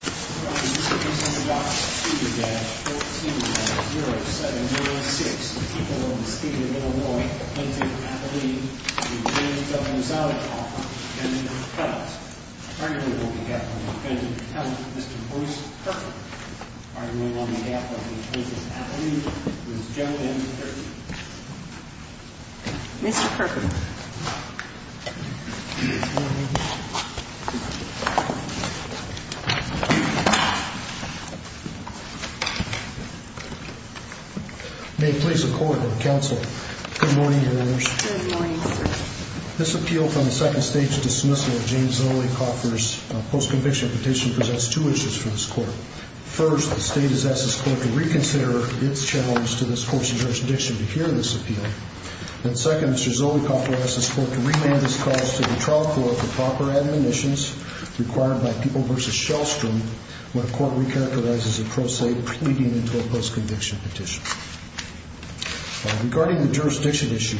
The Court is at the discretion of the doctrine, Steger dash 14-0706, the people of the state of Illinois, Clinton, Appalooh, and the Williamsville, Mississauga, Department of Defense, and the Defense. Attorney General on behalf of the Department of Defense, Mr. Bruce Perkin. Attorney General on behalf of the Appalooh, Mississauga, Appalooh, Ms. Joanne Perkin. Mr. Perkin. May it please the Court and Counsel. Good morning, Your Honors. Good morning, sir. This appeal from the second stage dismissal of James Zolikoffer's post-conviction petition presents two issues for this Court. First, the State has asked this Court to reconsider its challenge to this Court's jurisdiction to hear this appeal. And second, Mr. Zolikoffer has asked this Court to remand this cause to the trial court for proper admonitions required by People v. Shellstrom when a court recalculizes a pro se pleading into a post-conviction petition. Regarding the jurisdiction issue,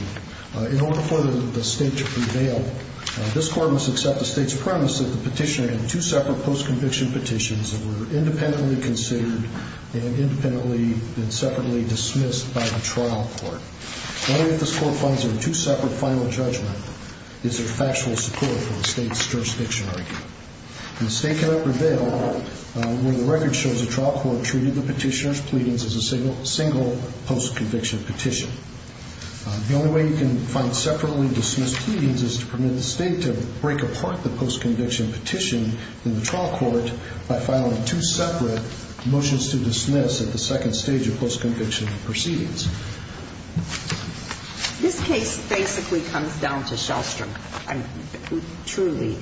in order for the State to prevail, this Court must accept the State's premise that the petitioner had two separate post-conviction petitions that were independently considered and independently and separately dismissed by the trial court. Only if this Court finds there are two separate final judgments is there factual support for the State's jurisdiction argument. And the State cannot prevail when the record shows the trial court treated the petitioner's pleadings as a single post-conviction petition. The only way you can find separately dismissed pleadings is to permit the State to break apart the post-conviction petition in the trial court by filing two separate motions to dismiss at the second stage of post-conviction proceedings. This case basically comes down to Shellstrom, truly.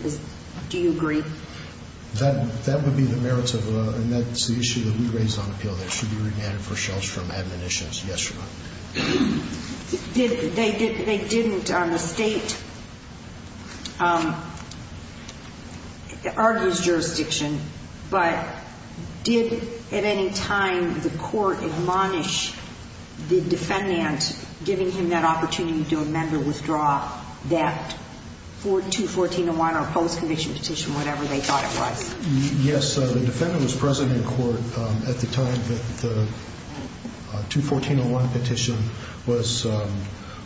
Do you agree? That would be the merits of a, and that's the issue that we raised on appeal that should be remanded for Shellstrom admonitions. Yes, Your Honor. They didn't, the State argues jurisdiction, but did at any time the Court admonish the defendant giving him that opportunity to amend or withdraw that 214.01 or post-conviction petition, whatever they thought it was? Yes, the defendant was present in court at the time that the 214.01 petition was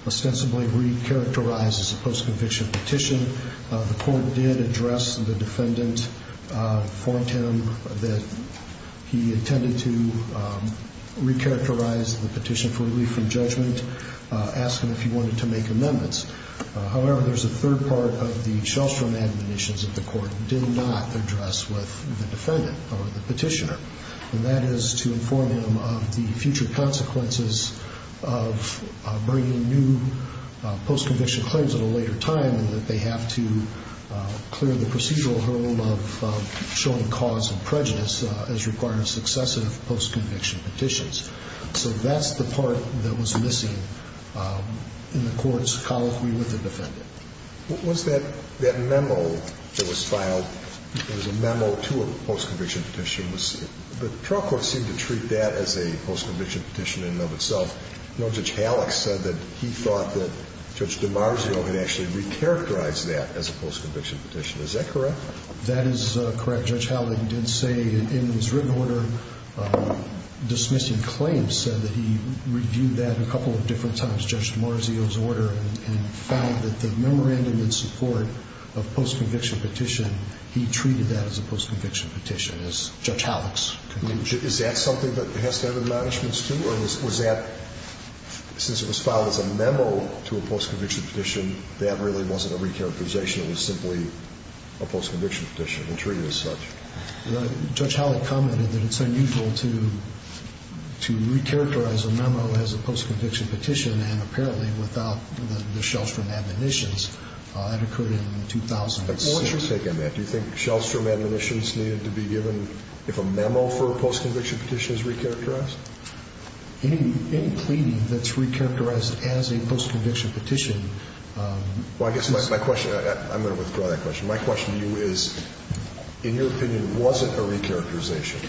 ostensibly re-characterized as a post-conviction petition. The Court did address the defendant, warned him that he intended to re-characterize the petition for relief from judgment, asked him if he wanted to make amendments. However, there's a third part of the Shellstrom admonitions that the Court did not address with the defendant or the petitioner. And that is to inform him of the future consequences of bringing new post-conviction claims at a later time and that they have to clear the procedural hurdle of showing cause of prejudice as required in successive post-conviction petitions. So that's the part that was missing in the Court's colloquy with the defendant. What was that memo that was filed? It was a memo to a post-conviction petition. The trial court seemed to treat that as a post-conviction petition in and of itself. Judge Hallock said that he thought that Judge DiMarzio had actually re-characterized that as a post-conviction petition. Is that correct? That is correct. Judge Hallock did say in his written order, dismissing claims, said that he reviewed that a couple of different times, Judge DiMarzio's order, and found that the memorandum in support of post-conviction petition, he treated that as a post-conviction petition, as Judge Hallock's conclusion. Is that something that has to have in the management's too, or was that, since it was filed as a memo to a post-conviction petition, that really wasn't a re-characterization, it was simply a post-conviction petition and treated as such? Judge Hallock commented that it's unusual to re-characterize a memo as a post-conviction petition, and apparently without the Shellstrom admonitions, that occurred in 2006. What's your take on that? Do you think Shellstrom admonitions needed to be given if a memo for a post-conviction petition is re-characterized? Any plea that's re-characterized as a post-conviction petition... Well, I guess my question, I'm going to withdraw that question. My question to you is, in your opinion, was it a re-characterization,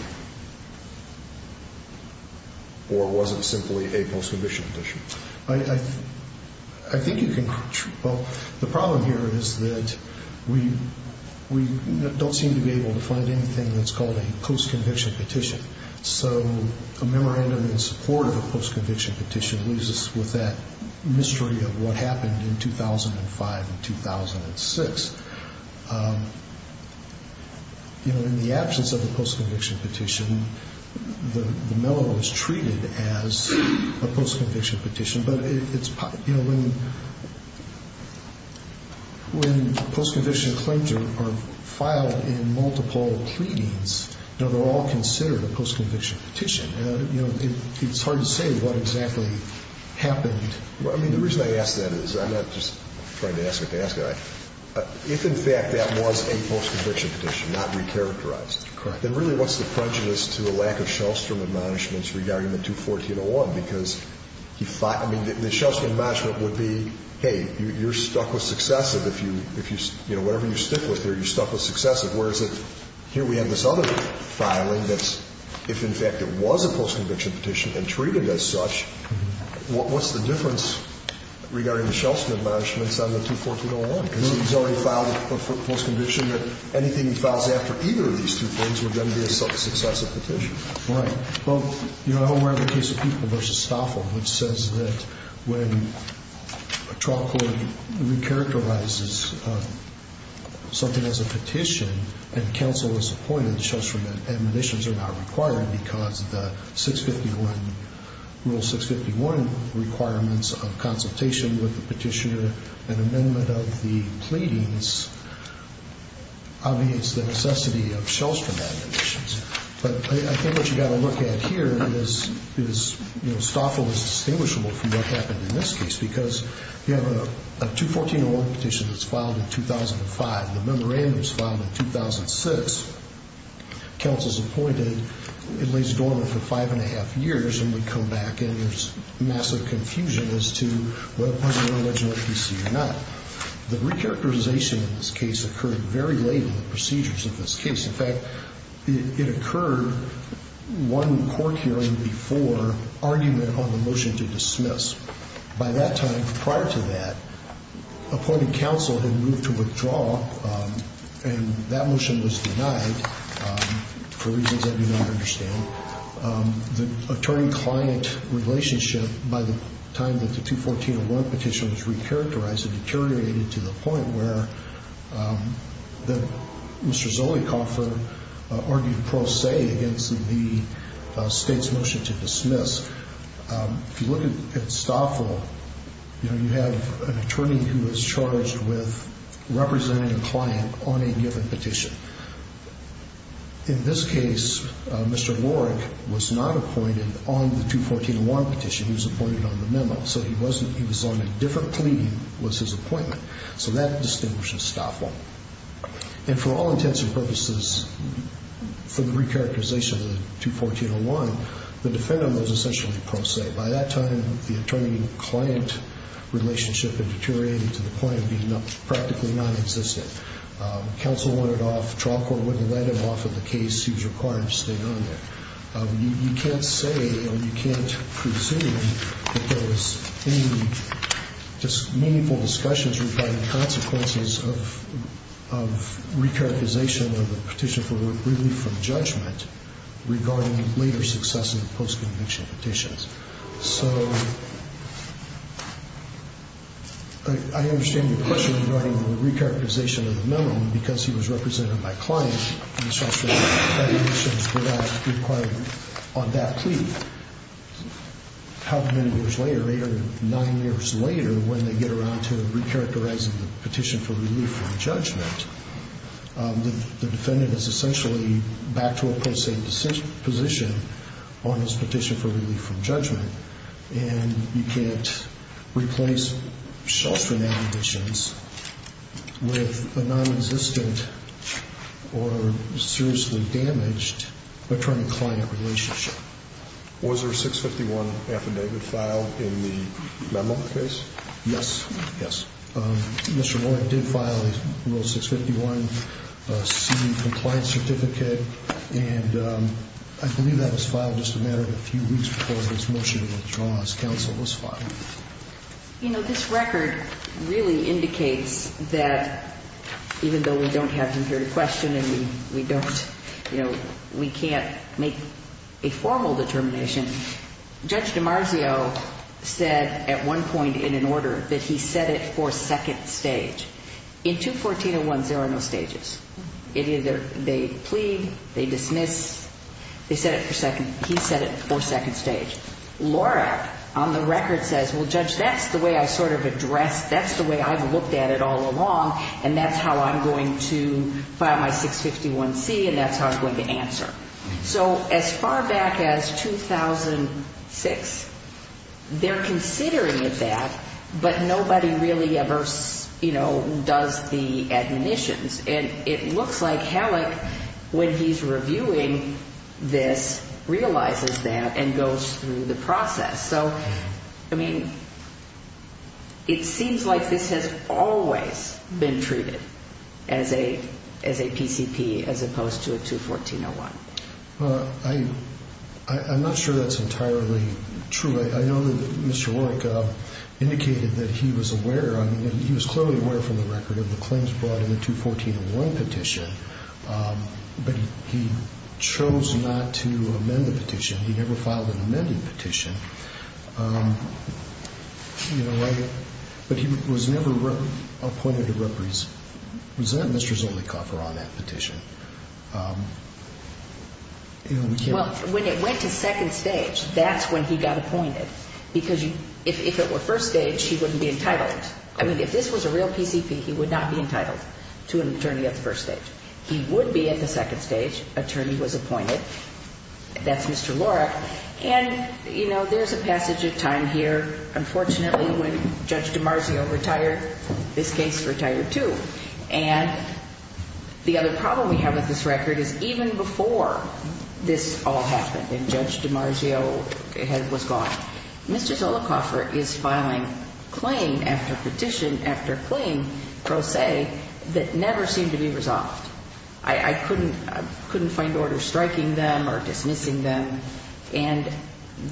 or was it simply a post-conviction petition? I think you can... Well, the problem here is that we don't seem to be able to find anything that's called a post-conviction petition. So a memorandum in support of a post-conviction petition leaves us with that mystery of what happened in 2005 and 2006. In the absence of the post-conviction petition, the memo was treated as a post-conviction petition. But when post-conviction claims are filed in multiple pleadings, they're all considered a post-conviction petition. It's hard to say what exactly happened. Well, I mean, the reason I ask that is, I'm not just trying to ask it to ask it. If, in fact, that was a post-conviction petition, not re-characterized... Correct. ...then really what's the prejudice to a lack of Shellstrom admonishments regarding the 214-01? Because he thought, I mean, the Shellstrom admonishment would be, hey, you're stuck with successive. If you, you know, whatever you stick with there, you're stuck with successive. Whereas if, here we have this other filing that's, if, in fact, it was a post-conviction petition and treated as such, what's the difference regarding the Shellstrom admonishments on the 214-01? Because he's already filed a post-conviction that anything he files after either of these two things would then be a successive petition. Right. Well, you know, I hope we're having a case of people versus Stoffel, which says that when a trial court re-characterizes something as a petition and counsel is appointed, Shellstrom admonitions are not required because the 651, Rule 651 requirements of consultation with the petitioner, an amendment of the pleadings, obviates the necessity of Shellstrom admonitions. But I think what you've got to look at here is, you know, Stoffel is distinguishable from what happened in this case because you have a 214-01 petition that's filed in 2005. The memorandum's filed in 2006. Counsel's appointed. It lays dormant for five and a half years and we come back and there's massive confusion as to whether it was an original APC or not. The re-characterization in this case occurred very late in the procedures of this case. In fact, it occurred one court hearing before argument on the motion to dismiss. By that time, prior to that, appointed counsel had moved to withdraw and that motion was denied for reasons I do not understand. The attorney-client relationship, by the time that the 214-01 petition was re-characterized, it deteriorated to the point where Mr. Zolikoffer argued pro se against the state's motion to dismiss. If you look at Stoffel, you know, you have an attorney who is charged with representing a client on a given petition. In this case, Mr. Warwick was not appointed on the 214-01 petition. He was appointed on the memo. So he was on a different plea than was his appointment. So that distinguishes Stoffel. And for all intents and purposes, for the re-characterization of the 214-01, the defendant was essentially pro se. By that time, the attorney-client relationship had deteriorated to the point of being practically nonexistent. Counsel wanted off. Trial court wouldn't let him off of the case. He was required to stay on there. You can't say or you can't presume that there was any meaningful discussions regarding consequences of re-characterization of the petition for relief from judgment regarding later success in the post-conviction petitions. So I understand your question regarding the re-characterization of the memo, because he was represented by client on that plea. How many years later, eight or nine years later, when they get around to re-characterizing the petition for relief from judgment, the defendant is essentially back to a pro se position on his petition for relief from judgment. And you can't replace shell-string acquisitions with a non-existent or seriously damaged attorney-client relationship. Was there a 651 affidavit filed in the memo case? Yes. Yes. Mr. Lohrig did file a little 651C compliance certificate. And I believe that was filed just a matter of a few weeks before this motion was drawn as counsel was filed. You know, this record really indicates that even though we don't have him here to question and we don't, you know, we can't make a formal determination, Judge DiMarzio said at one point in an order that he set it for second stage. In 214-01, there are no stages. It either they plead, they dismiss, they set it for second, he set it for second stage. Lohrig, on the record, says, well, Judge, that's the way I sort of address, that's the way I've looked at it all along, and that's how I'm going to file my 651C and that's how I'm going to answer. So as far back as 2006, they're considering that, but nobody really ever, you know, does the admonitions. And it looks like Halleck, when he's reviewing this, realizes that and goes through the process. So, I mean, it seems like this has always been treated as a PCP as opposed to a 214-01. Well, I'm not sure that's entirely true. I know that Mr. Lohrig indicated that he was aware, he was clearly aware from the record of the claims brought in the 214-01 petition, but he chose not to amend the petition. He never filed an amended petition. But he was never appointed to represent Mr. Zollicoffer on that petition. Well, when it went to second stage, that's when he got appointed, because if it were first stage, he wouldn't be entitled. I mean, if this was a real PCP, he would not be entitled to an attorney at the first stage. He would be at the second stage. Attorney was appointed. That's Mr. Lohrig. And, you know, there's a passage of time here. Unfortunately, when Judge DiMarzio retired, this case retired too. And the other problem we have with this record is even before this all happened and Judge DiMarzio was gone, Mr. Zollicoffer is filing claim after petition after claim, pro se, that never seem to be resolved. I couldn't find orders striking them or dismissing them, and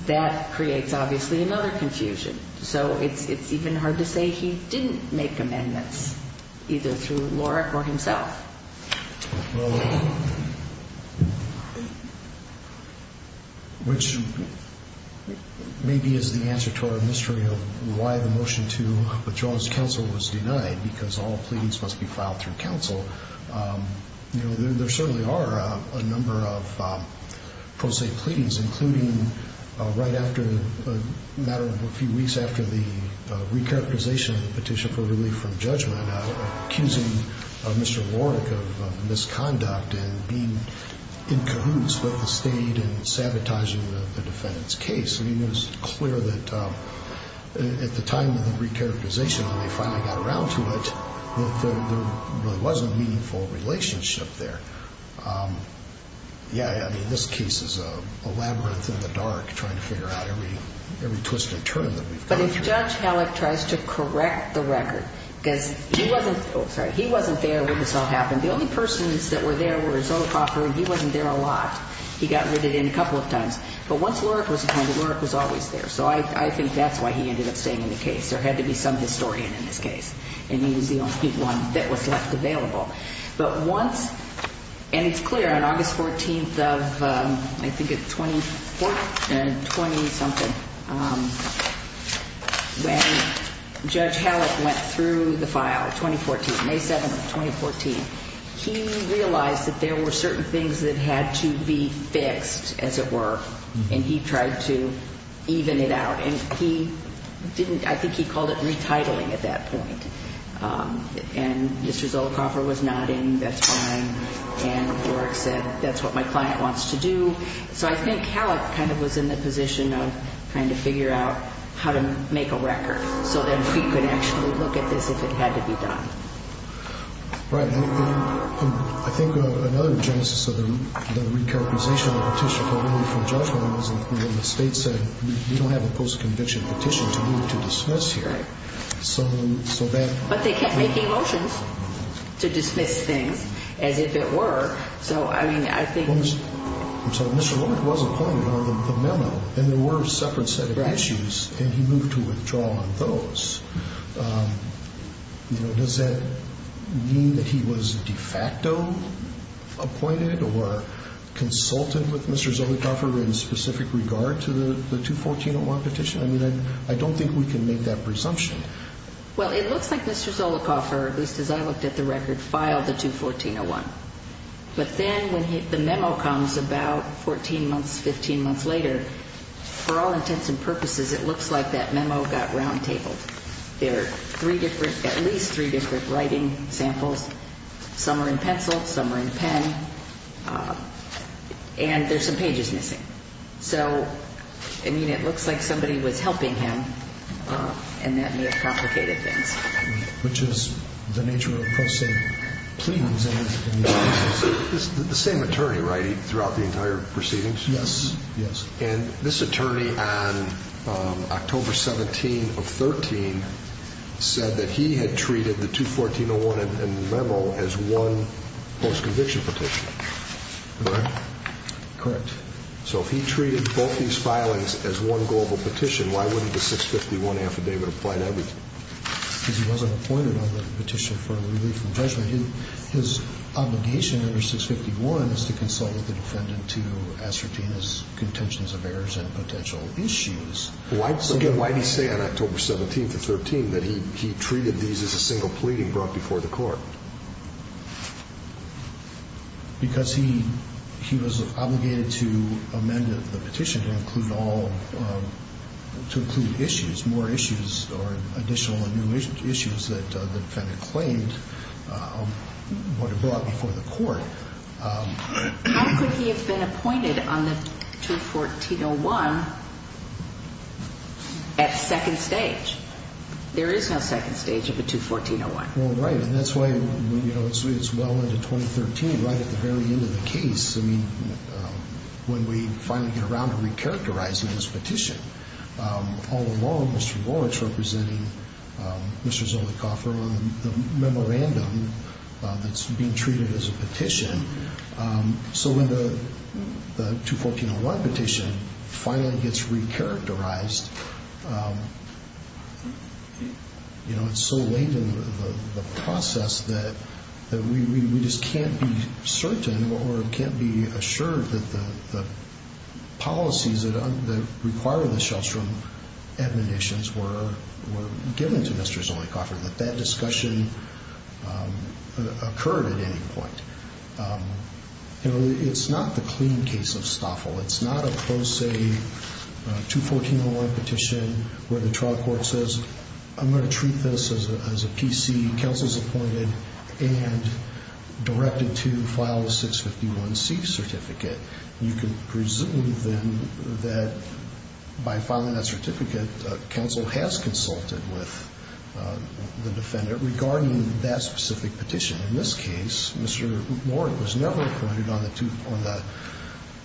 that creates, obviously, another confusion. So it's even hard to say he didn't make amendments, either through Lohrig or himself. Well, which maybe is the answer to our mystery of why the motion to withdraw his counsel was denied, because all pleadings must be filed through counsel. You know, there certainly are a number of pro se pleadings, including right after a matter of a few weeks after the recharacterization of the petition for relief from judgment, accusing Mr. Lohrig of misconduct and being in cahoots with the state and sabotaging the defendant's case. I mean, it was clear that at the time of the recharacterization, when they finally got around to it, that there really wasn't a meaningful relationship there. Yeah, I mean, this case is a labyrinth in the dark, trying to figure out every twisted turn that we've come through. But if Judge Hallock tries to correct the record, because he wasn't there when this all happened, the only persons that were there were Zollicoffer, and he wasn't there a lot. He got rid of him a couple of times. But once Lohrig was appointed, Lohrig was always there. So I think that's why he ended up staying in the case. There had to be some historian in this case, and he was the only one that was left available. But once, and it's clear, on August 14th of, I think it's 24th and 20-something, when Judge Hallock went through the file, 2014, May 7th of 2014, he realized that there were certain things that had to be fixed, as it were, and he tried to even it out. And he didn't, I think he called it retitling at that point. And Mr. Zollicoffer was nodding, that's fine. And Lohrig said, that's what my client wants to do. So I think Hallock kind of was in the position of trying to figure out how to make a record so that we could actually look at this if it had to be done. Right. And I think another genesis of the recharacterization of the petition for removal from judgment was when the state said, we don't have a post-conviction petition to move to dismiss here. Right. So that. But they kept making motions to dismiss things, as if it were. So, I mean, I think. So Mr. Lohrig was appointed on the memo, and there were a separate set of issues, and he moved to withdraw on those. You know, does that mean that he was de facto appointed or consulted with Mr. Zollicoffer in specific regard to the 214-01 petition? I mean, I don't think we can make that presumption. Well, it looks like Mr. Zollicoffer, at least as I looked at the record, filed the 214-01. But then when the memo comes about 14 months, 15 months later, for all intents and purposes, it looks like that memo got round-tabled. There are three different, at least three different writing samples. Some are in pencil. Some are in pen. And there's some pages missing. So, I mean, it looks like somebody was helping him, and that may have complicated things. Which is the nature of processing. The same attorney, right, throughout the entire proceedings? Yes. Yes. And this attorney on October 17 of 13 said that he had treated the 214-01 memo as one post-conviction petition. Correct? Correct. So if he treated both these filings as one global petition, why wouldn't the 651 affidavit apply to everything? Because he wasn't appointed on the petition for relief from judgment. His obligation under 651 is to consult with the defendant to ascertain his contentions of errors and potential issues. Why did he say on October 17 of 13 that he treated these as a single plea he brought before the court? Because he was obligated to amend the petition to include all, to include issues, or additional and new issues that the defendant claimed would have brought before the court. How could he have been appointed on the 214-01 at second stage? There is no second stage of a 214-01. Well, right. And that's why, you know, it's well into 2013, right at the very end of the case. I mean, when we finally get around to recharacterizing this petition, all along Mr. Rorich representing Mr. Zolikoffer on the memorandum that's being treated as a petition. So when the 214-01 petition finally gets recharacterized, you know, it's so late in the process that we just can't be certain or can't be assured that the policies that require the Shellstrom admonitions were given to Mr. Zolikoffer, that that discussion occurred at any point. You know, it's not the clean case of Stoffel. It's not a close say 214-01 petition where the trial court says, I'm going to treat this as a PC, counsel's appointed, and directed to file a 651-C certificate. You can presume then that by filing that certificate, counsel has consulted with the defendant regarding that specific petition. In this case, Mr. Rorich was never appointed on the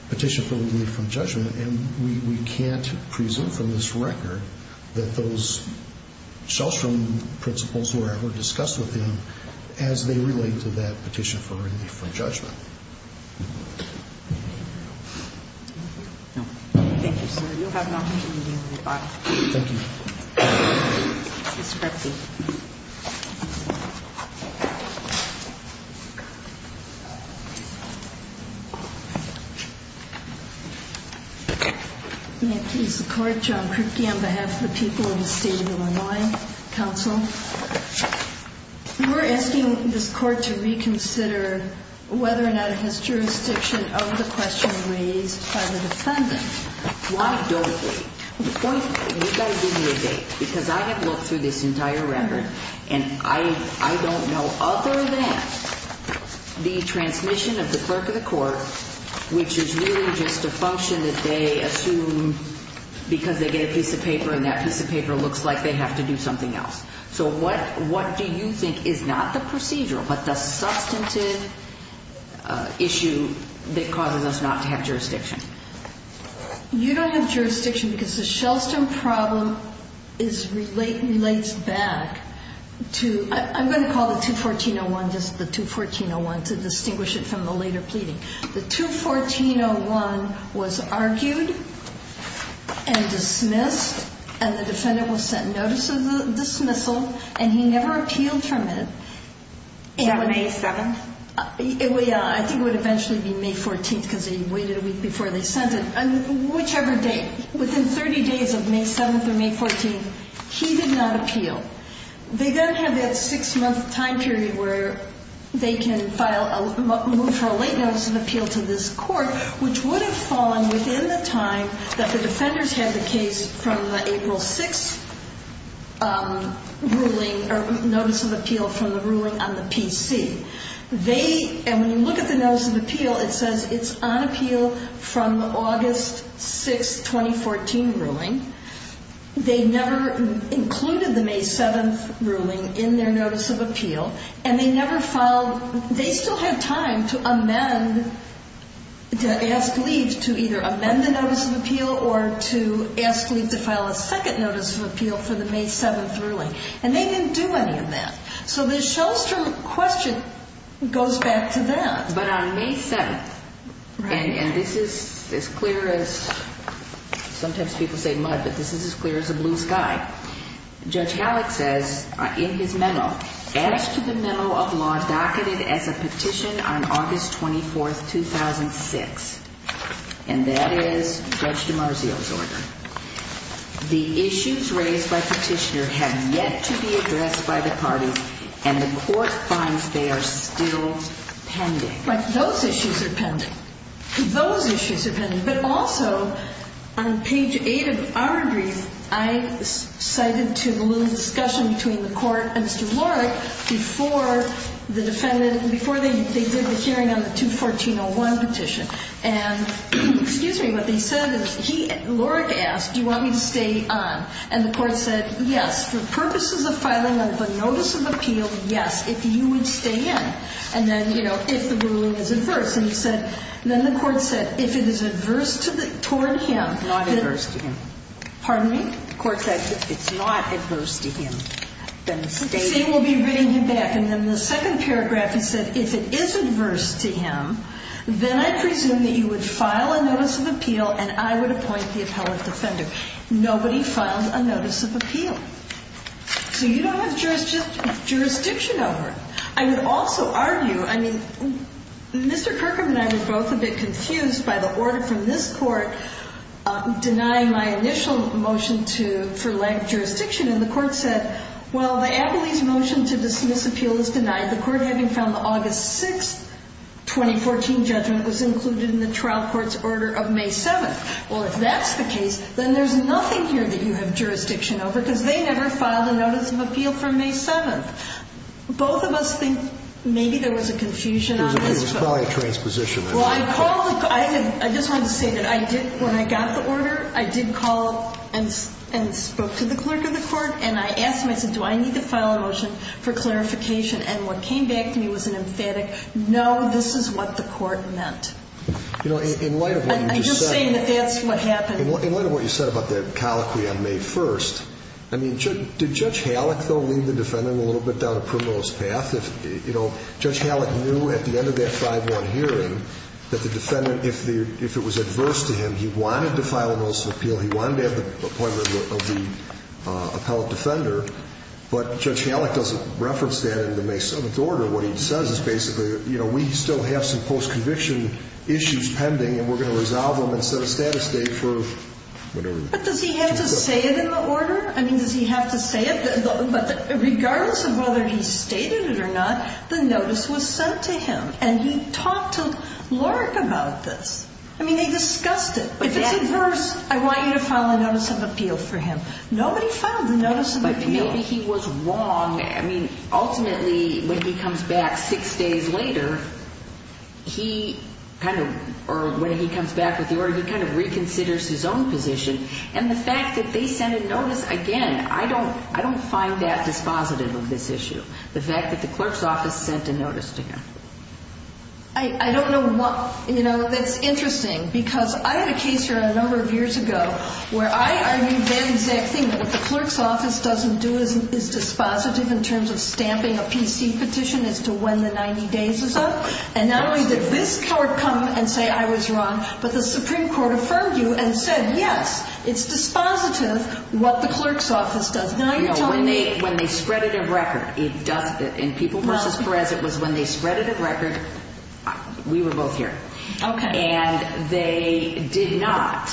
petition for relief from judgment, and we can't presume from this record that those Shellstrom principles were ever discussed with him as they relate to that petition for relief from judgment. Thank you, sir. Thank you. Mr. Kripke. May it please the Court, John Kripke, on behalf of the people of the State of Illinois, counsel, we're asking this Court to reconsider whether or not it has jurisdiction over the question raised by the defendant. Why don't we? You've got to give me a date, because I have looked through this entire record, and I don't know other than the transmission of the clerk of the court, which is really just a function that they assume because they get a piece of paper and that piece of paper looks like they have to do something else. So what do you think is not the procedure but the substantive issue that causes us not to have jurisdiction? You don't have jurisdiction because the Shellstrom problem relates back to, I'm going to call it 214-01, just the 214-01 to distinguish it from the later pleading. The 214-01 was argued and dismissed, and the defendant was sent notice of dismissal, and he never appealed from it. Yeah, May 7th. I think it would eventually be May 14th because he waited a week before they sent it. Whichever date, within 30 days of May 7th or May 14th, he did not appeal. They then have that six-month time period where they can move for a late notice of appeal to this court, which would have fallen within the time that the defenders had the case from the April 6th ruling or notice of appeal from the ruling on the PC. And when you look at the notice of appeal, it says it's on appeal from the August 6th, 2014 ruling. They never included the May 7th ruling in their notice of appeal, and they never filed, they still had time to amend, to ask leave to either amend the notice of appeal or to ask leave to file a second notice of appeal for the May 7th ruling, and they didn't do any of that. So the Shellstrom question goes back to that. But on May 7th, and this is as clear as, sometimes people say mud, but this is as clear as a blue sky, Judge Gallick says in his memo, as to the memo of law docketed as a petition on August 24th, 2006, and that is Judge DiMarzio's order, the issues raised by petitioner have yet to be addressed by the party and the court finds they are still pending. But those issues are pending. Those issues are pending. But also, on page 8 of our brief, I cited to the little discussion between the court and Mr. Lorick before the defendant, before they did the hearing on the 214-01 petition. And, excuse me, what they said is he, Lorick asked, do you want me to stay on? And the court said, yes, for purposes of filing a notice of appeal, yes, if you would stay in. And then, you know, if the ruling is adverse. And he said, then the court said, if it is adverse toward him. Not adverse to him. Pardon me? The court said if it's not adverse to him, then stay in. See, we'll be reading him back. And then the second paragraph, he said, if it is adverse to him, then I presume that you would file a notice of appeal and I would appoint the appellate defender. Nobody filed a notice of appeal. So you don't have jurisdiction over it. I would also argue, I mean, Mr. Kirkham and I were both a bit confused by the order from this court denying my initial motion to furlough jurisdiction. And the court said, well, the appellee's motion to dismiss appeal is denied. The court, having found the August 6, 2014, judgment was included in the trial court's order of May 7. Well, if that's the case, then there's nothing here that you have jurisdiction over because they never filed a notice of appeal for May 7. Both of us think maybe there was a confusion on this. It was probably a transposition. Well, I called the court. I just wanted to say that I did, when I got the order, I did call and spoke to the clerk of the court. And I asked him, I said, do I need to file a motion for clarification? And what came back to me was an emphatic, no, this is what the court meant. And you're saying that that's what happened? In light of what you said about that colloquy on May 1, I mean, did Judge Halleck, though, lead the defendant a little bit down a criminalist path? You know, Judge Halleck knew at the end of that 5-1 hearing that the defendant, if it was adverse to him, he wanted to file a notice of appeal, he wanted to have the appointment of the appellate defender. But Judge Halleck doesn't reference that in the May 7 order. What he says is basically, you know, we still have some post-conviction issues pending, and we're going to resolve them and set a status date for whatever. But does he have to say it in the order? I mean, does he have to say it? But regardless of whether he stated it or not, the notice was sent to him. And he talked to Lark about this. I mean, they discussed it. If it's adverse, I want you to file a notice of appeal for him. Nobody filed the notice of appeal. Maybe he was wrong. I mean, ultimately, when he comes back 6 days later, he kind of, or when he comes back with the order, he kind of reconsiders his own position. And the fact that they sent a notice, again, I don't find that dispositive of this issue, the fact that the clerk's office sent a notice to him. I don't know what, you know, that's interesting because I had a case here a number of years ago where I argued the exact thing that the clerk's office doesn't do is dispositive in terms of stamping a PC petition as to when the 90 days is up. And not only did this court come and say I was wrong, but the Supreme Court affirmed you and said, yes, it's dispositive what the clerk's office does. Now you're telling me. When they spread it at record, it does, in People v. Perez, it was when they spread it at record, we were both here. Okay. And they did not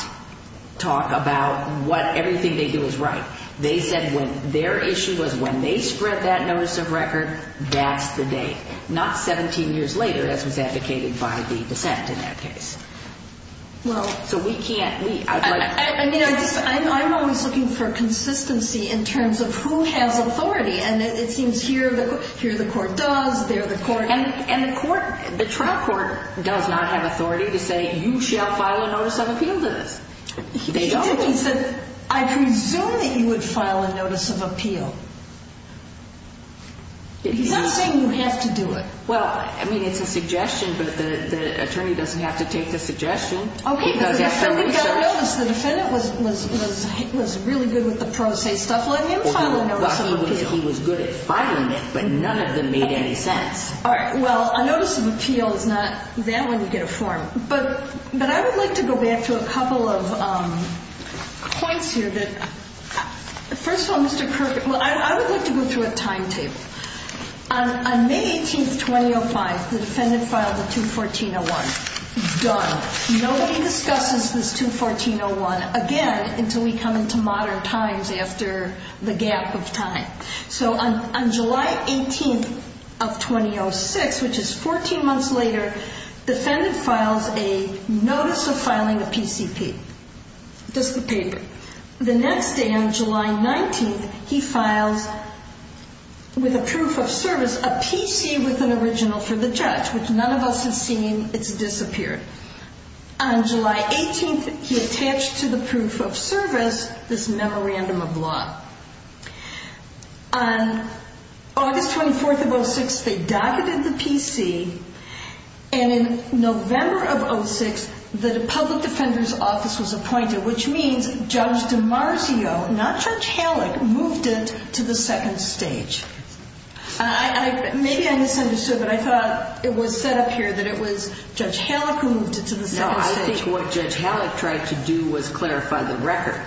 talk about what, everything they do is right. They said when their issue was when they spread that notice of record, that's the date. Not 17 years later, as was advocated by the dissent in that case. Well. So we can't, we. I mean, I'm always looking for consistency in terms of who has authority, and it seems here the court does, there the court doesn't. And the court, the trial court does not have authority to say you shall file a notice of appeal to this. They don't. He said, I presume that you would file a notice of appeal. He's not saying you have to do it. Well, I mean, it's a suggestion, but the attorney doesn't have to take the suggestion. Okay, but the defendant got a notice. The defendant was really good with the pro se stuff, let him file a notice of appeal. He was good at filing it, but none of them made any sense. All right. Well, a notice of appeal is not that when you get a form. But I would like to go back to a couple of points here. First of all, Mr. Kirk, I would like to go through a timetable. On May 18th, 2005, the defendant filed a 214-01. Done. Nobody discusses this 214-01 again until we come into modern times after the gap of time. So on July 18th of 2006, which is 14 months later, the defendant files a notice of filing a PCP. Just the paper. The next day on July 19th, he files with a proof of service a PC with an original for the judge, which none of us has seen. It's disappeared. On July 18th, he attached to the proof of service this memorandum of law. On August 24th of 06, they docketed the PC. And in November of 06, the public defender's office was appointed, which means Judge DiMarzio, not Judge Halleck, moved it to the second stage. Maybe I misunderstood, but I thought it was set up here that it was Judge Halleck who moved it to the second stage. No, I think what Judge Halleck tried to do was clarify the record.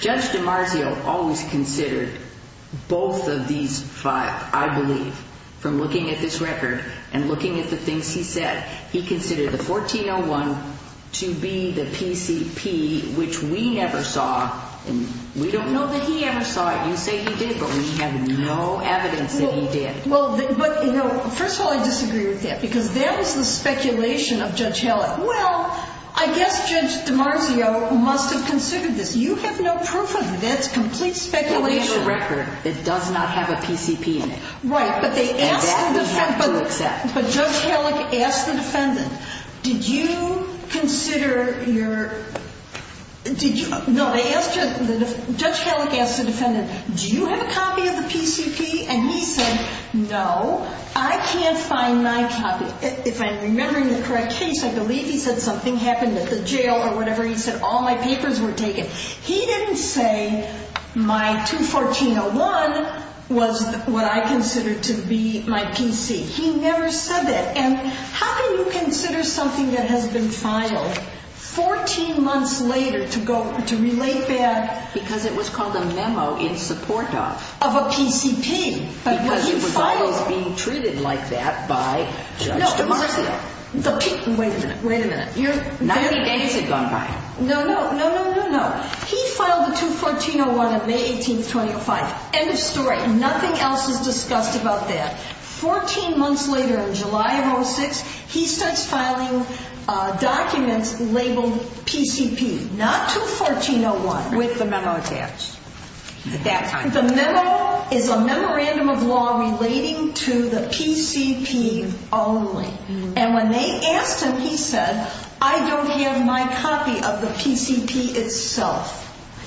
Judge DiMarzio always considered both of these files, I believe, from looking at this record and looking at the things he said. He considered the 14-01 to be the PCP, which we never saw, and we don't know that he ever saw it. You say he did, but we have no evidence that he did. Well, but, you know, first of all, I disagree with that because that is the speculation of Judge Halleck. Well, I guess Judge DiMarzio must have considered this. You have no proof of it. That's complete speculation. But we have a record that does not have a PCP in it. Right. And that we have to accept. But Judge Halleck asked the defendant, did you consider your – no, Judge Halleck asked the defendant, do you have a copy of the PCP? And he said, no, I can't find my copy. If I'm remembering the correct case, I believe he said something happened at the jail or whatever. He said all my papers were taken. He didn't say my 214-01 was what I considered to be my PC. He never said that. And how can you consider something that has been filed 14 months later to relate back? Because it was called a memo in support of. Of a PCP. Because it was always being treated like that by Judge DiMarzio. No, wait a minute, wait a minute. 90 days had gone by. No, no, no, no, no, no. He filed the 214-01 on May 18th, 2005. End of story. Nothing else is discussed about that. 14 months later, in July of 2006, he starts filing documents labeled PCP. Not 214-01. With the memo attached. The memo is a memorandum of law relating to the PCP only. And when they asked him, he said, I don't have my copy of the PCP itself.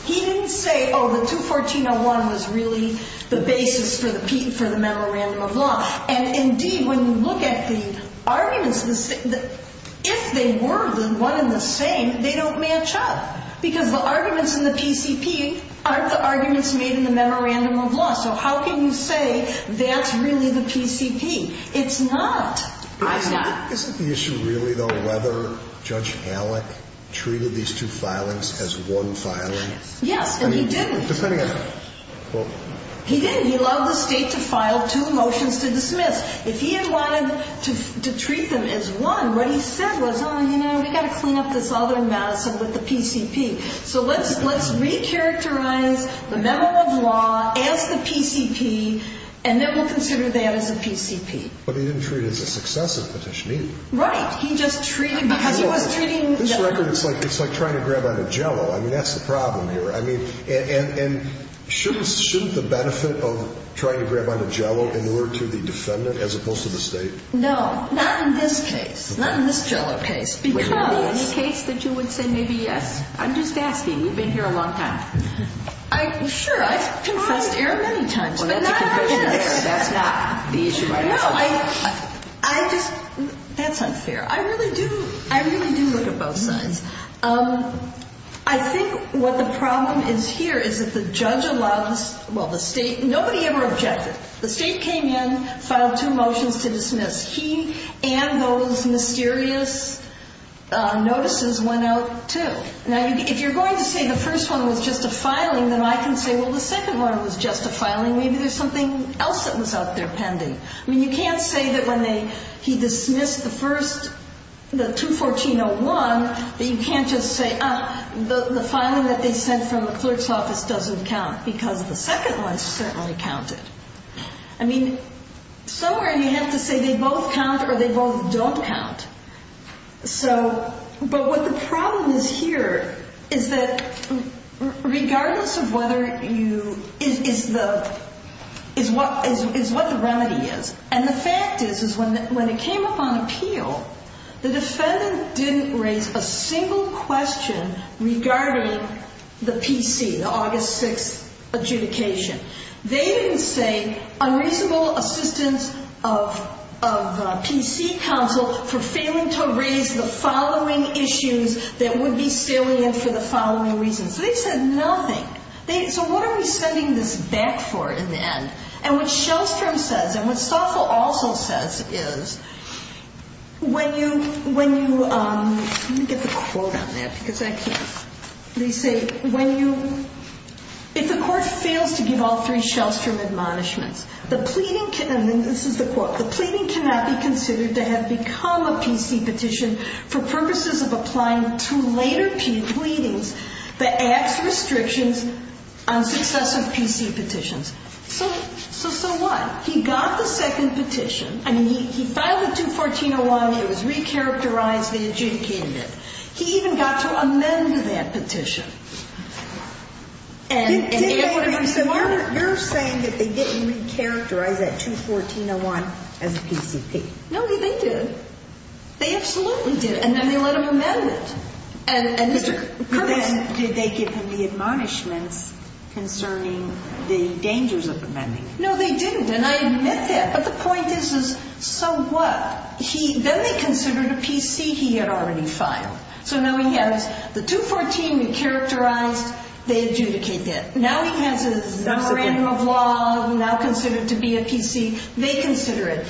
He didn't say, oh, the 214-01 was really the basis for the memorandum of law. And indeed, when you look at the arguments, if they were one and the same, they don't match up. Because the arguments in the PCP aren't the arguments made in the memorandum of law. So how can you say that's really the PCP? It's not. Isn't the issue really, though, whether Judge Halleck treated these two filings as one filing? Yes, and he didn't. He didn't. He allowed the state to file two motions to dismiss. If he had wanted to treat them as one, what he said was, oh, you know, we've got to clean up this other mess with the PCP. So let's recharacterize the memo of law as the PCP, and then we'll consider that as a PCP. But he didn't treat it as a successive petition either. Right. He just treated it because he was treating the- This record, it's like trying to grab on a Jell-O. I mean, that's the problem here. I mean, and shouldn't the benefit of trying to grab on a Jell-O in order to the defendant as opposed to the state? No, not in this case. Not in this Jell-O case, because- Would there be any case that you would say maybe yes? I'm just asking. You've been here a long time. Sure, I've confessed error many times, but not on this. Well, that's a confession error. That's not the issue right now. No, I just-that's unfair. I really do look at both sides. I think what the problem is here is that the judge allows-well, the state-nobody ever objected. The state came in, filed two motions to dismiss. He and those mysterious notices went out too. Now, if you're going to say the first one was just a filing, then I can say, well, the second one was just a filing. Maybe there's something else that was out there pending. I mean, you can't say that when they-he dismissed the first-the 214-01 that you can't just say, ah, the filing that they sent from the clerk's office doesn't count because the second one certainly counted. I mean, somewhere you have to say they both count or they both don't count. So-but what the problem is here is that regardless of whether you-is the-is what the remedy is. And the fact is, is when it came up on appeal, the defendant didn't raise a single question regarding the PC, the August 6th adjudication. They didn't say unreasonable assistance of-of the PC counsel for failing to raise the following issues that would be salient for the following reasons. So they said nothing. They-so what are we sending this back for in the end? And what Shellstrom says and what Stoffel also says is when you-when you-let me get the quote on that because I can't- If the court fails to give all three Shellstrom admonishments, the pleading can-and this is the quote- the pleading cannot be considered to have become a PC petition for purposes of applying two later pleadings that acts restrictions on successive PC petitions. So-so what? He got the second petition. I mean, he-he filed the 214-01. It was recharacterized. They adjudicated it. He even got to amend that petition. And-and- He did what he said. You're-you're saying that they didn't recharacterize that 214-01 as a PCP. No, they-they did. They absolutely did. And then they let him amend it. And-and Mr. Kurtz- But then did they give him the admonishments concerning the dangers of amending it? No, they didn't. And I admit that. But the point is-is so what? He-then they considered a PC he had already filed. So now he has the 214 recharacterized. They adjudicate that. Now he has his memorandum of law now considered to be a PC. They consider it.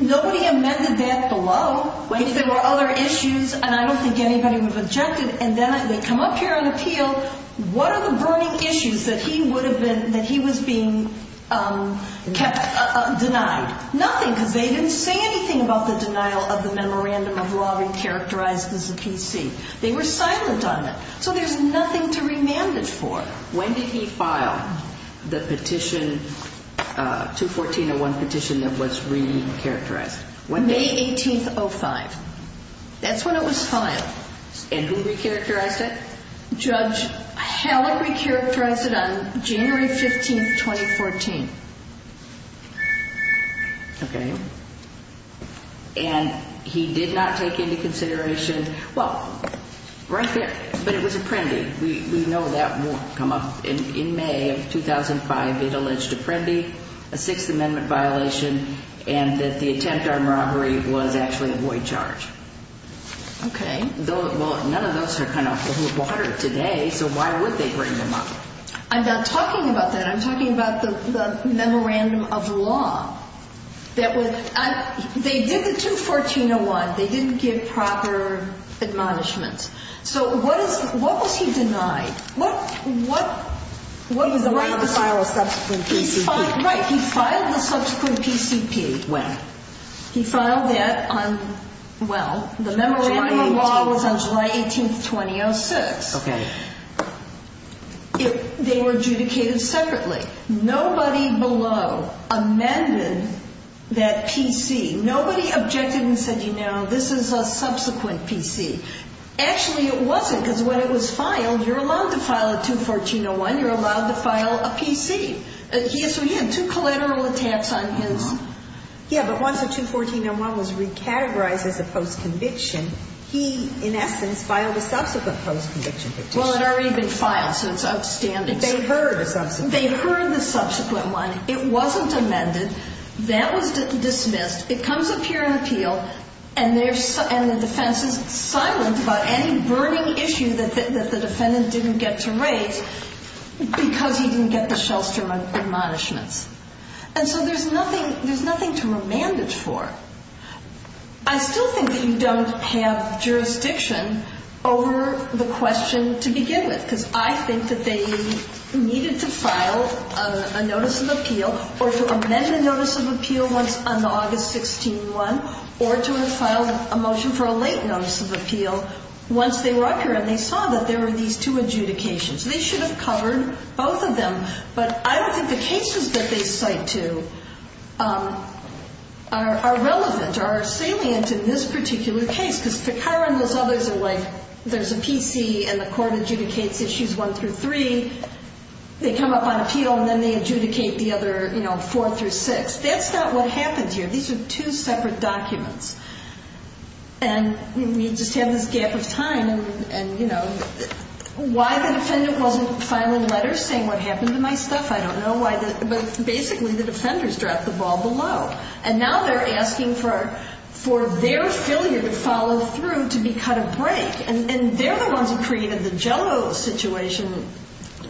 Nobody amended that below if there were other issues. And I don't think anybody would have objected. And then they come up here on appeal. What are the burning issues that he would have been-that he was being kept-denied? Nothing, because they didn't say anything about the denial of the memorandum of law recharacterized as a PC. They were silent on it. So there's nothing to remand it for. When did he file the petition-214-01 petition that was re-recharacterized? May 18th, 05. That's when it was filed. And who recharacterized it? Judge Halleck recharacterized it on January 15th, 2014. Okay. And he did not take into consideration-well, right there, but it was Apprendi. We know that won't come up. In May of 2005, it alleged Apprendi, a Sixth Amendment violation, and that the attempt on robbery was actually a void charge. Okay. Well, none of those are kind of water today, so why would they bring them up? I'm not talking about that. I'm talking about the memorandum of law that was-they did the 214-01. They didn't give proper admonishments. So what was he denied? He was allowed to file a subsequent PCP. Right. He filed the subsequent PCP. When? He filed that on-well, the memorandum of law was on July 18th, 2006. Okay. They were adjudicated separately. Nobody below amended that PC. Nobody objected and said, you know, this is a subsequent PC. Actually, it wasn't because when it was filed, you're allowed to file a 214-01, you're allowed to file a PC. So he had two collateral attacks on his- Yeah, but once the 214-01 was recategorized as a post-conviction, he, in essence, filed a subsequent post-conviction petition. Well, it had already been filed, so it's outstanding. They heard a subsequent- They heard the subsequent one. It wasn't amended. That was dismissed. It comes up here in appeal, and the defense is silent about any burning issue that the defendant didn't get to raise because he didn't get the Shellstrom admonishments. And so there's nothing to remand it for. I still think that you don't have jurisdiction over the question to begin with because I think that they needed to file a notice of appeal or to amend a notice of appeal once on August 16-1 or to have filed a motion for a late notice of appeal once they were up here and they saw that there were these two adjudications. They should have covered both of them, but I don't think the cases that they cite to are relevant or salient in this particular case because Takara and those others are like, there's a PC and the court adjudicates issues one through three. They come up on appeal, and then they adjudicate the other four through six. That's not what happened here. These are two separate documents, and we just have this gap of time. And, you know, why the defendant wasn't filing letters saying what happened to my stuff, I don't know, but basically the defenders dropped the ball below. And now they're asking for their failure to follow through to be cut a break, and they're the ones who created the jello situation,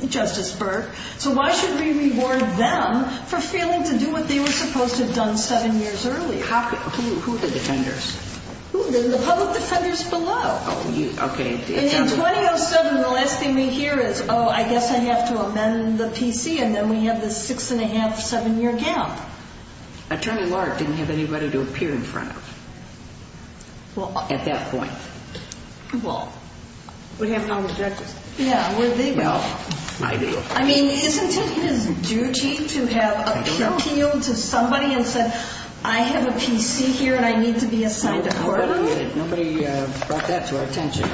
Justice Burke. So why should we reward them for failing to do what they were supposed to have done seven years earlier? Who are the defenders? The public defenders below. Oh, okay. In 2007, the last thing we hear is, oh, I guess I have to amend the PC, and then we have this six-and-a-half, seven-year gap. Attorney Lark didn't have anybody to appear in front of at that point. Well, we'd have non-objectors. Yeah, where'd they go? I mean, isn't it his duty to have appealed to somebody and said, I have a PC here and I need to be assigned a court order? Nobody brought that to our attention.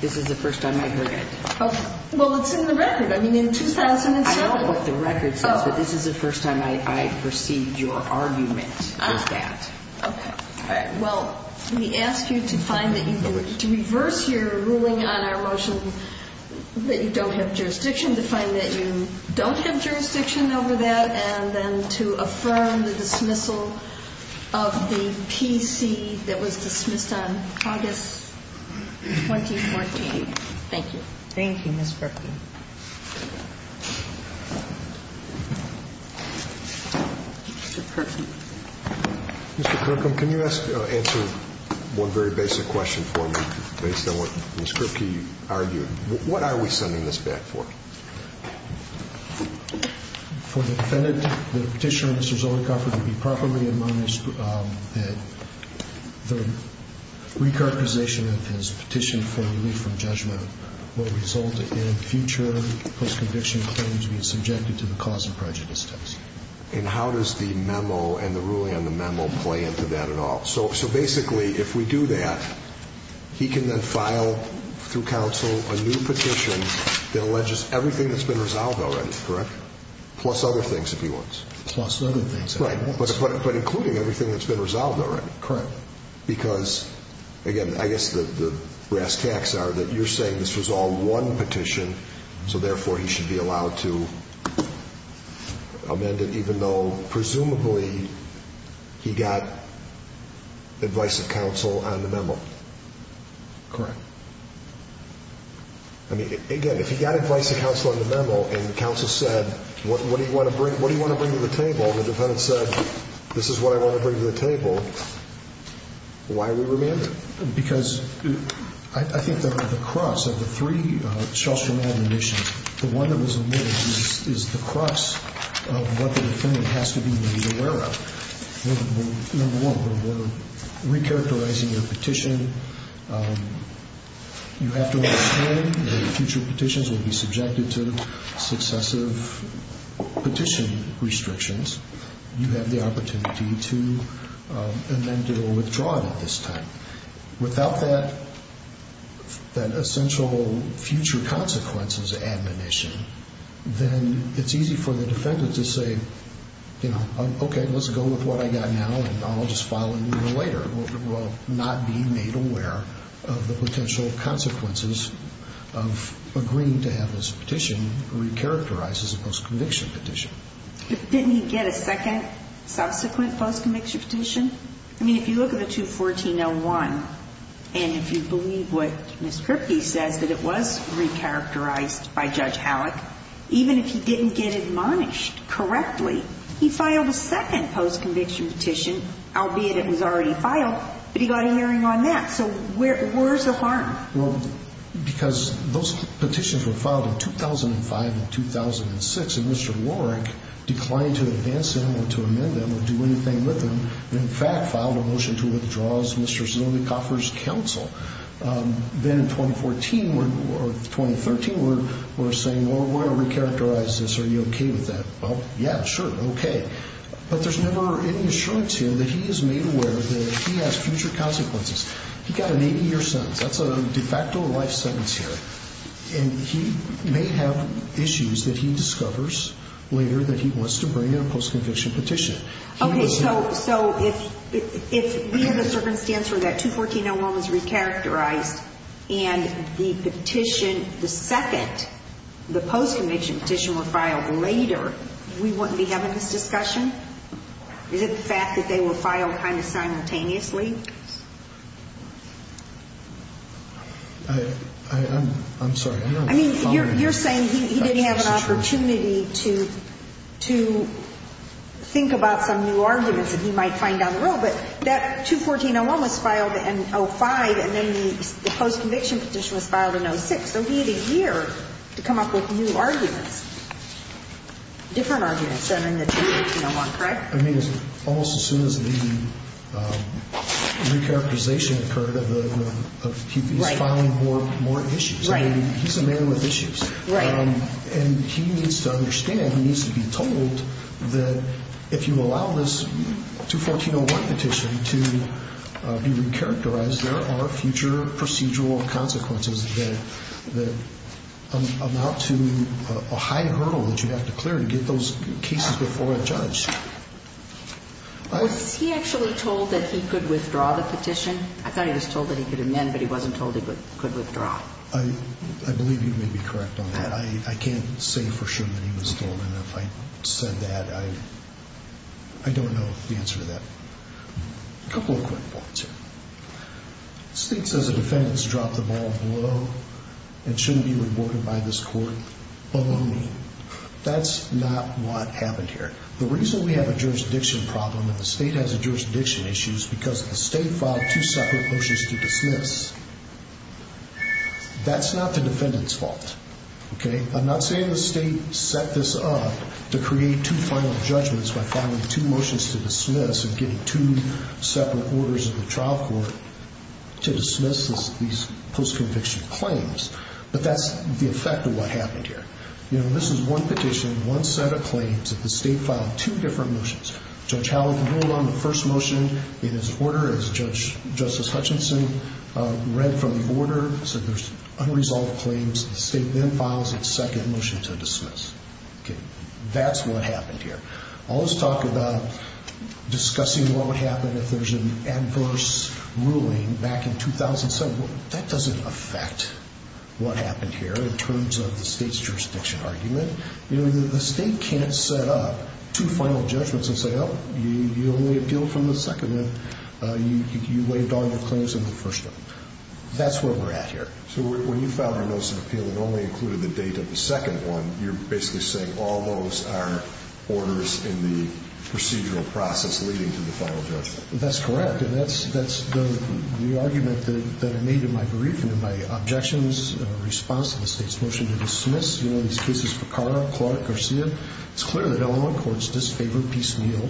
This is the first time I heard it. Well, it's in the record. I mean, in 2007. I know what the record says, but this is the first time I perceived your argument with that. Okay. All right. Well, we ask you to reverse your ruling on our motion that you don't have jurisdiction, to find that you don't have jurisdiction over that, and then to affirm the dismissal of the PC that was dismissed on August 2014. Thank you. Thank you, Ms. Perkin. Mr. Perkin. Mr. Kirkham, can you answer one very basic question for me based on what Ms. Perkin argued? What are we sending this back for? For the defendant, the petitioner, Mr. Zolikoff, to be properly admonished that the recarticization of his petition for relief from judgment will result in future post-conviction claims being subjected to the cause and prejudice test. And how does the memo and the ruling on the memo play into that at all? So basically, if we do that, he can then file through counsel a new petition that alleges everything that's been resolved already, correct? Plus other things, if he wants. Plus other things, if he wants. Right. But including everything that's been resolved already. Correct. Because, again, I guess the brass tacks are that you're saying this was all one petition, so therefore he should be allowed to amend it even though presumably he got advice of counsel on the memo. Correct. I mean, again, if he got advice of counsel on the memo and counsel said, what do you want to bring to the table, and the defendant said, this is what I want to bring to the table, why are we remanding? Because I think the crux of the three Shelstrom-Adler missions, the one that was amended is the crux of what the defendant has to be made aware of. Number one, we're recharacterizing your petition. You have to understand that future petitions will be subjected to successive petition restrictions. You have the opportunity to amend it or withdraw it at this time. Without that essential future consequences admonition, then it's easy for the defendant to say, you know, okay, let's go with what I got now, and I'll just file a new one later. We'll not be made aware of the potential consequences of agreeing to have this petition recharacterized as a post-conviction petition. Didn't he get a second subsequent post-conviction petition? I mean, if you look at the 214-01, and if you believe what Ms. Kirby says, that it was recharacterized by Judge Halleck, even if he didn't get admonished correctly, he filed a second post-conviction petition, albeit it was already filed, but he got a hearing on that. So where's the harm? Well, because those petitions were filed in 2005 and 2006, and Mr. Warwick declined to advance them or to amend them or do anything with them, and, in fact, filed a motion to withdraw as Mr. Zunig offers counsel. Then in 2014, or 2013, we're saying, well, we're going to recharacterize this. Are you okay with that? Well, yeah, sure, okay. But there's never any assurance here that he is made aware that he has future consequences. He got an 80-year sentence. That's a de facto life sentence here. And he may have issues that he discovers later that he wants to bring in a post-conviction petition. Okay, so if we have a circumstance where that 214-01 was recharacterized and the petition, the second, the post-conviction petition were filed later, we wouldn't be having this discussion? Is it the fact that they were filed kind of simultaneously? I'm sorry. I'm not following. I mean, you're saying he didn't have an opportunity to think about some new arguments that he might find down the road, but that 214-01 was filed in 2005, and then the post-conviction petition was filed in 2006. So he had a year to come up with new arguments, different arguments than in the 214-01, correct? I mean, almost as soon as the recharacterization occurred, he's filing more issues. He's a man with issues. And he needs to understand, he needs to be told that if you allow this 214-01 petition to be recharacterized, there are future procedural consequences that amount to a high hurdle that you have to clear to get those cases before a judge. Was he actually told that he could withdraw the petition? I thought he was told that he could amend, but he wasn't told he could withdraw. I believe you may be correct on that. I can't say for sure that he was told. And if I said that, I don't know the answer to that. A couple of quick points here. The state says a defendant has dropped the ball below and shouldn't be reported by this court below me. That's not what happened here. The reason we have a jurisdiction problem and the state has a jurisdiction issue is because the state filed two separate motions to dismiss. That's not the defendant's fault, okay? I'm not saying the state set this up to create two final judgments by filing two motions to dismiss and getting two separate orders of the trial court to dismiss these post-conviction claims, but that's the effect of what happened here. You know, this is one petition, one set of claims. The state filed two different motions. Judge Howell ruled on the first motion in his order. As Justice Hutchinson read from the order, he said there's unresolved claims. The state then files its second motion to dismiss. That's what happened here. All this talk about discussing what would happen if there's an adverse ruling back in 2007, that doesn't affect what happened here in terms of the state's jurisdiction argument. You know, the state can't set up two final judgments and say, oh, you only appealed from the second one, you waived all your claims on the first one. That's where we're at here. So when you filed a remorseful appeal and only included the date of the second one, you're basically saying all those are orders in the procedural process leading to the final judgment. That's correct, and that's the argument that I made in my briefing, in my objections, in response to the state's motion to dismiss. You know, these cases for Carr, Clark, Garcia, it's clear that Illinois courts disfavor piecemeal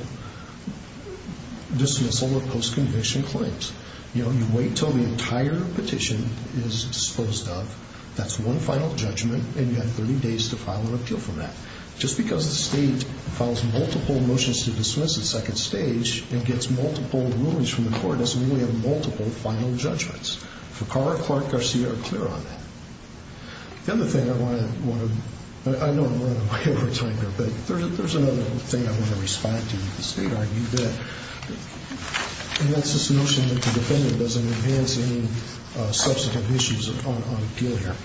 dismissal of post-conviction claims. You know, you wait until the entire petition is disposed of. That's one final judgment, and you have 30 days to file an appeal for that. Just because the state files multiple motions to dismiss at second stage and gets multiple rulings from the court doesn't mean we have multiple final judgments. For Carr, Clark, Garcia are clear on that. The other thing I want to – I know I'm running out of time here, but there's another thing I want to respond to that the state argued that, and that's this notion that the defendant doesn't enhance any substantive issues on appeal here.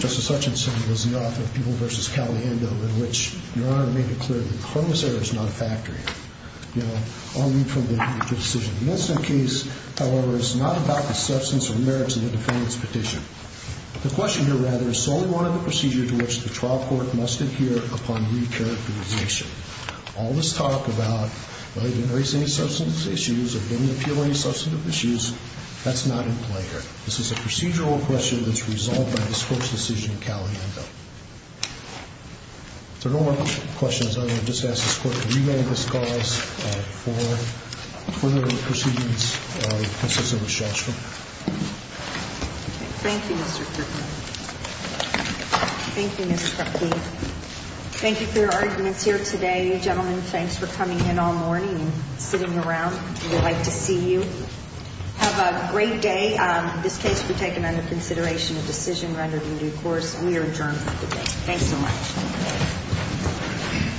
Justice Hutchinson was the author of People v. Caliendo, in which Your Honor made it clear that the Cronus Error is not a factor here. You know, I'll read from the decision. In this case, however, it's not about the substance or merits of the defendant's petition. The question here, rather, is solely one of the procedures to which the trial court must adhere upon re-characterization. All this talk about whether you enhance any substantive issues or don't appeal any substantive issues, that's not in play here. This is a procedural question that's resolved by this Court's decision in Caliendo. If there are no more questions, I'm going to just ask this Court to remand this cause for further proceedings. This is Elizabeth Shostrom. Thank you, Mr. Kirkley. Thank you, Mr. Kirkley. Thank you for your arguments here today. Gentlemen, thanks for coming in all morning and sitting around. We would like to see you. Have a great day. This case will be taken under consideration in a decision rendered in due course. We are adjourned for today. Thanks so much.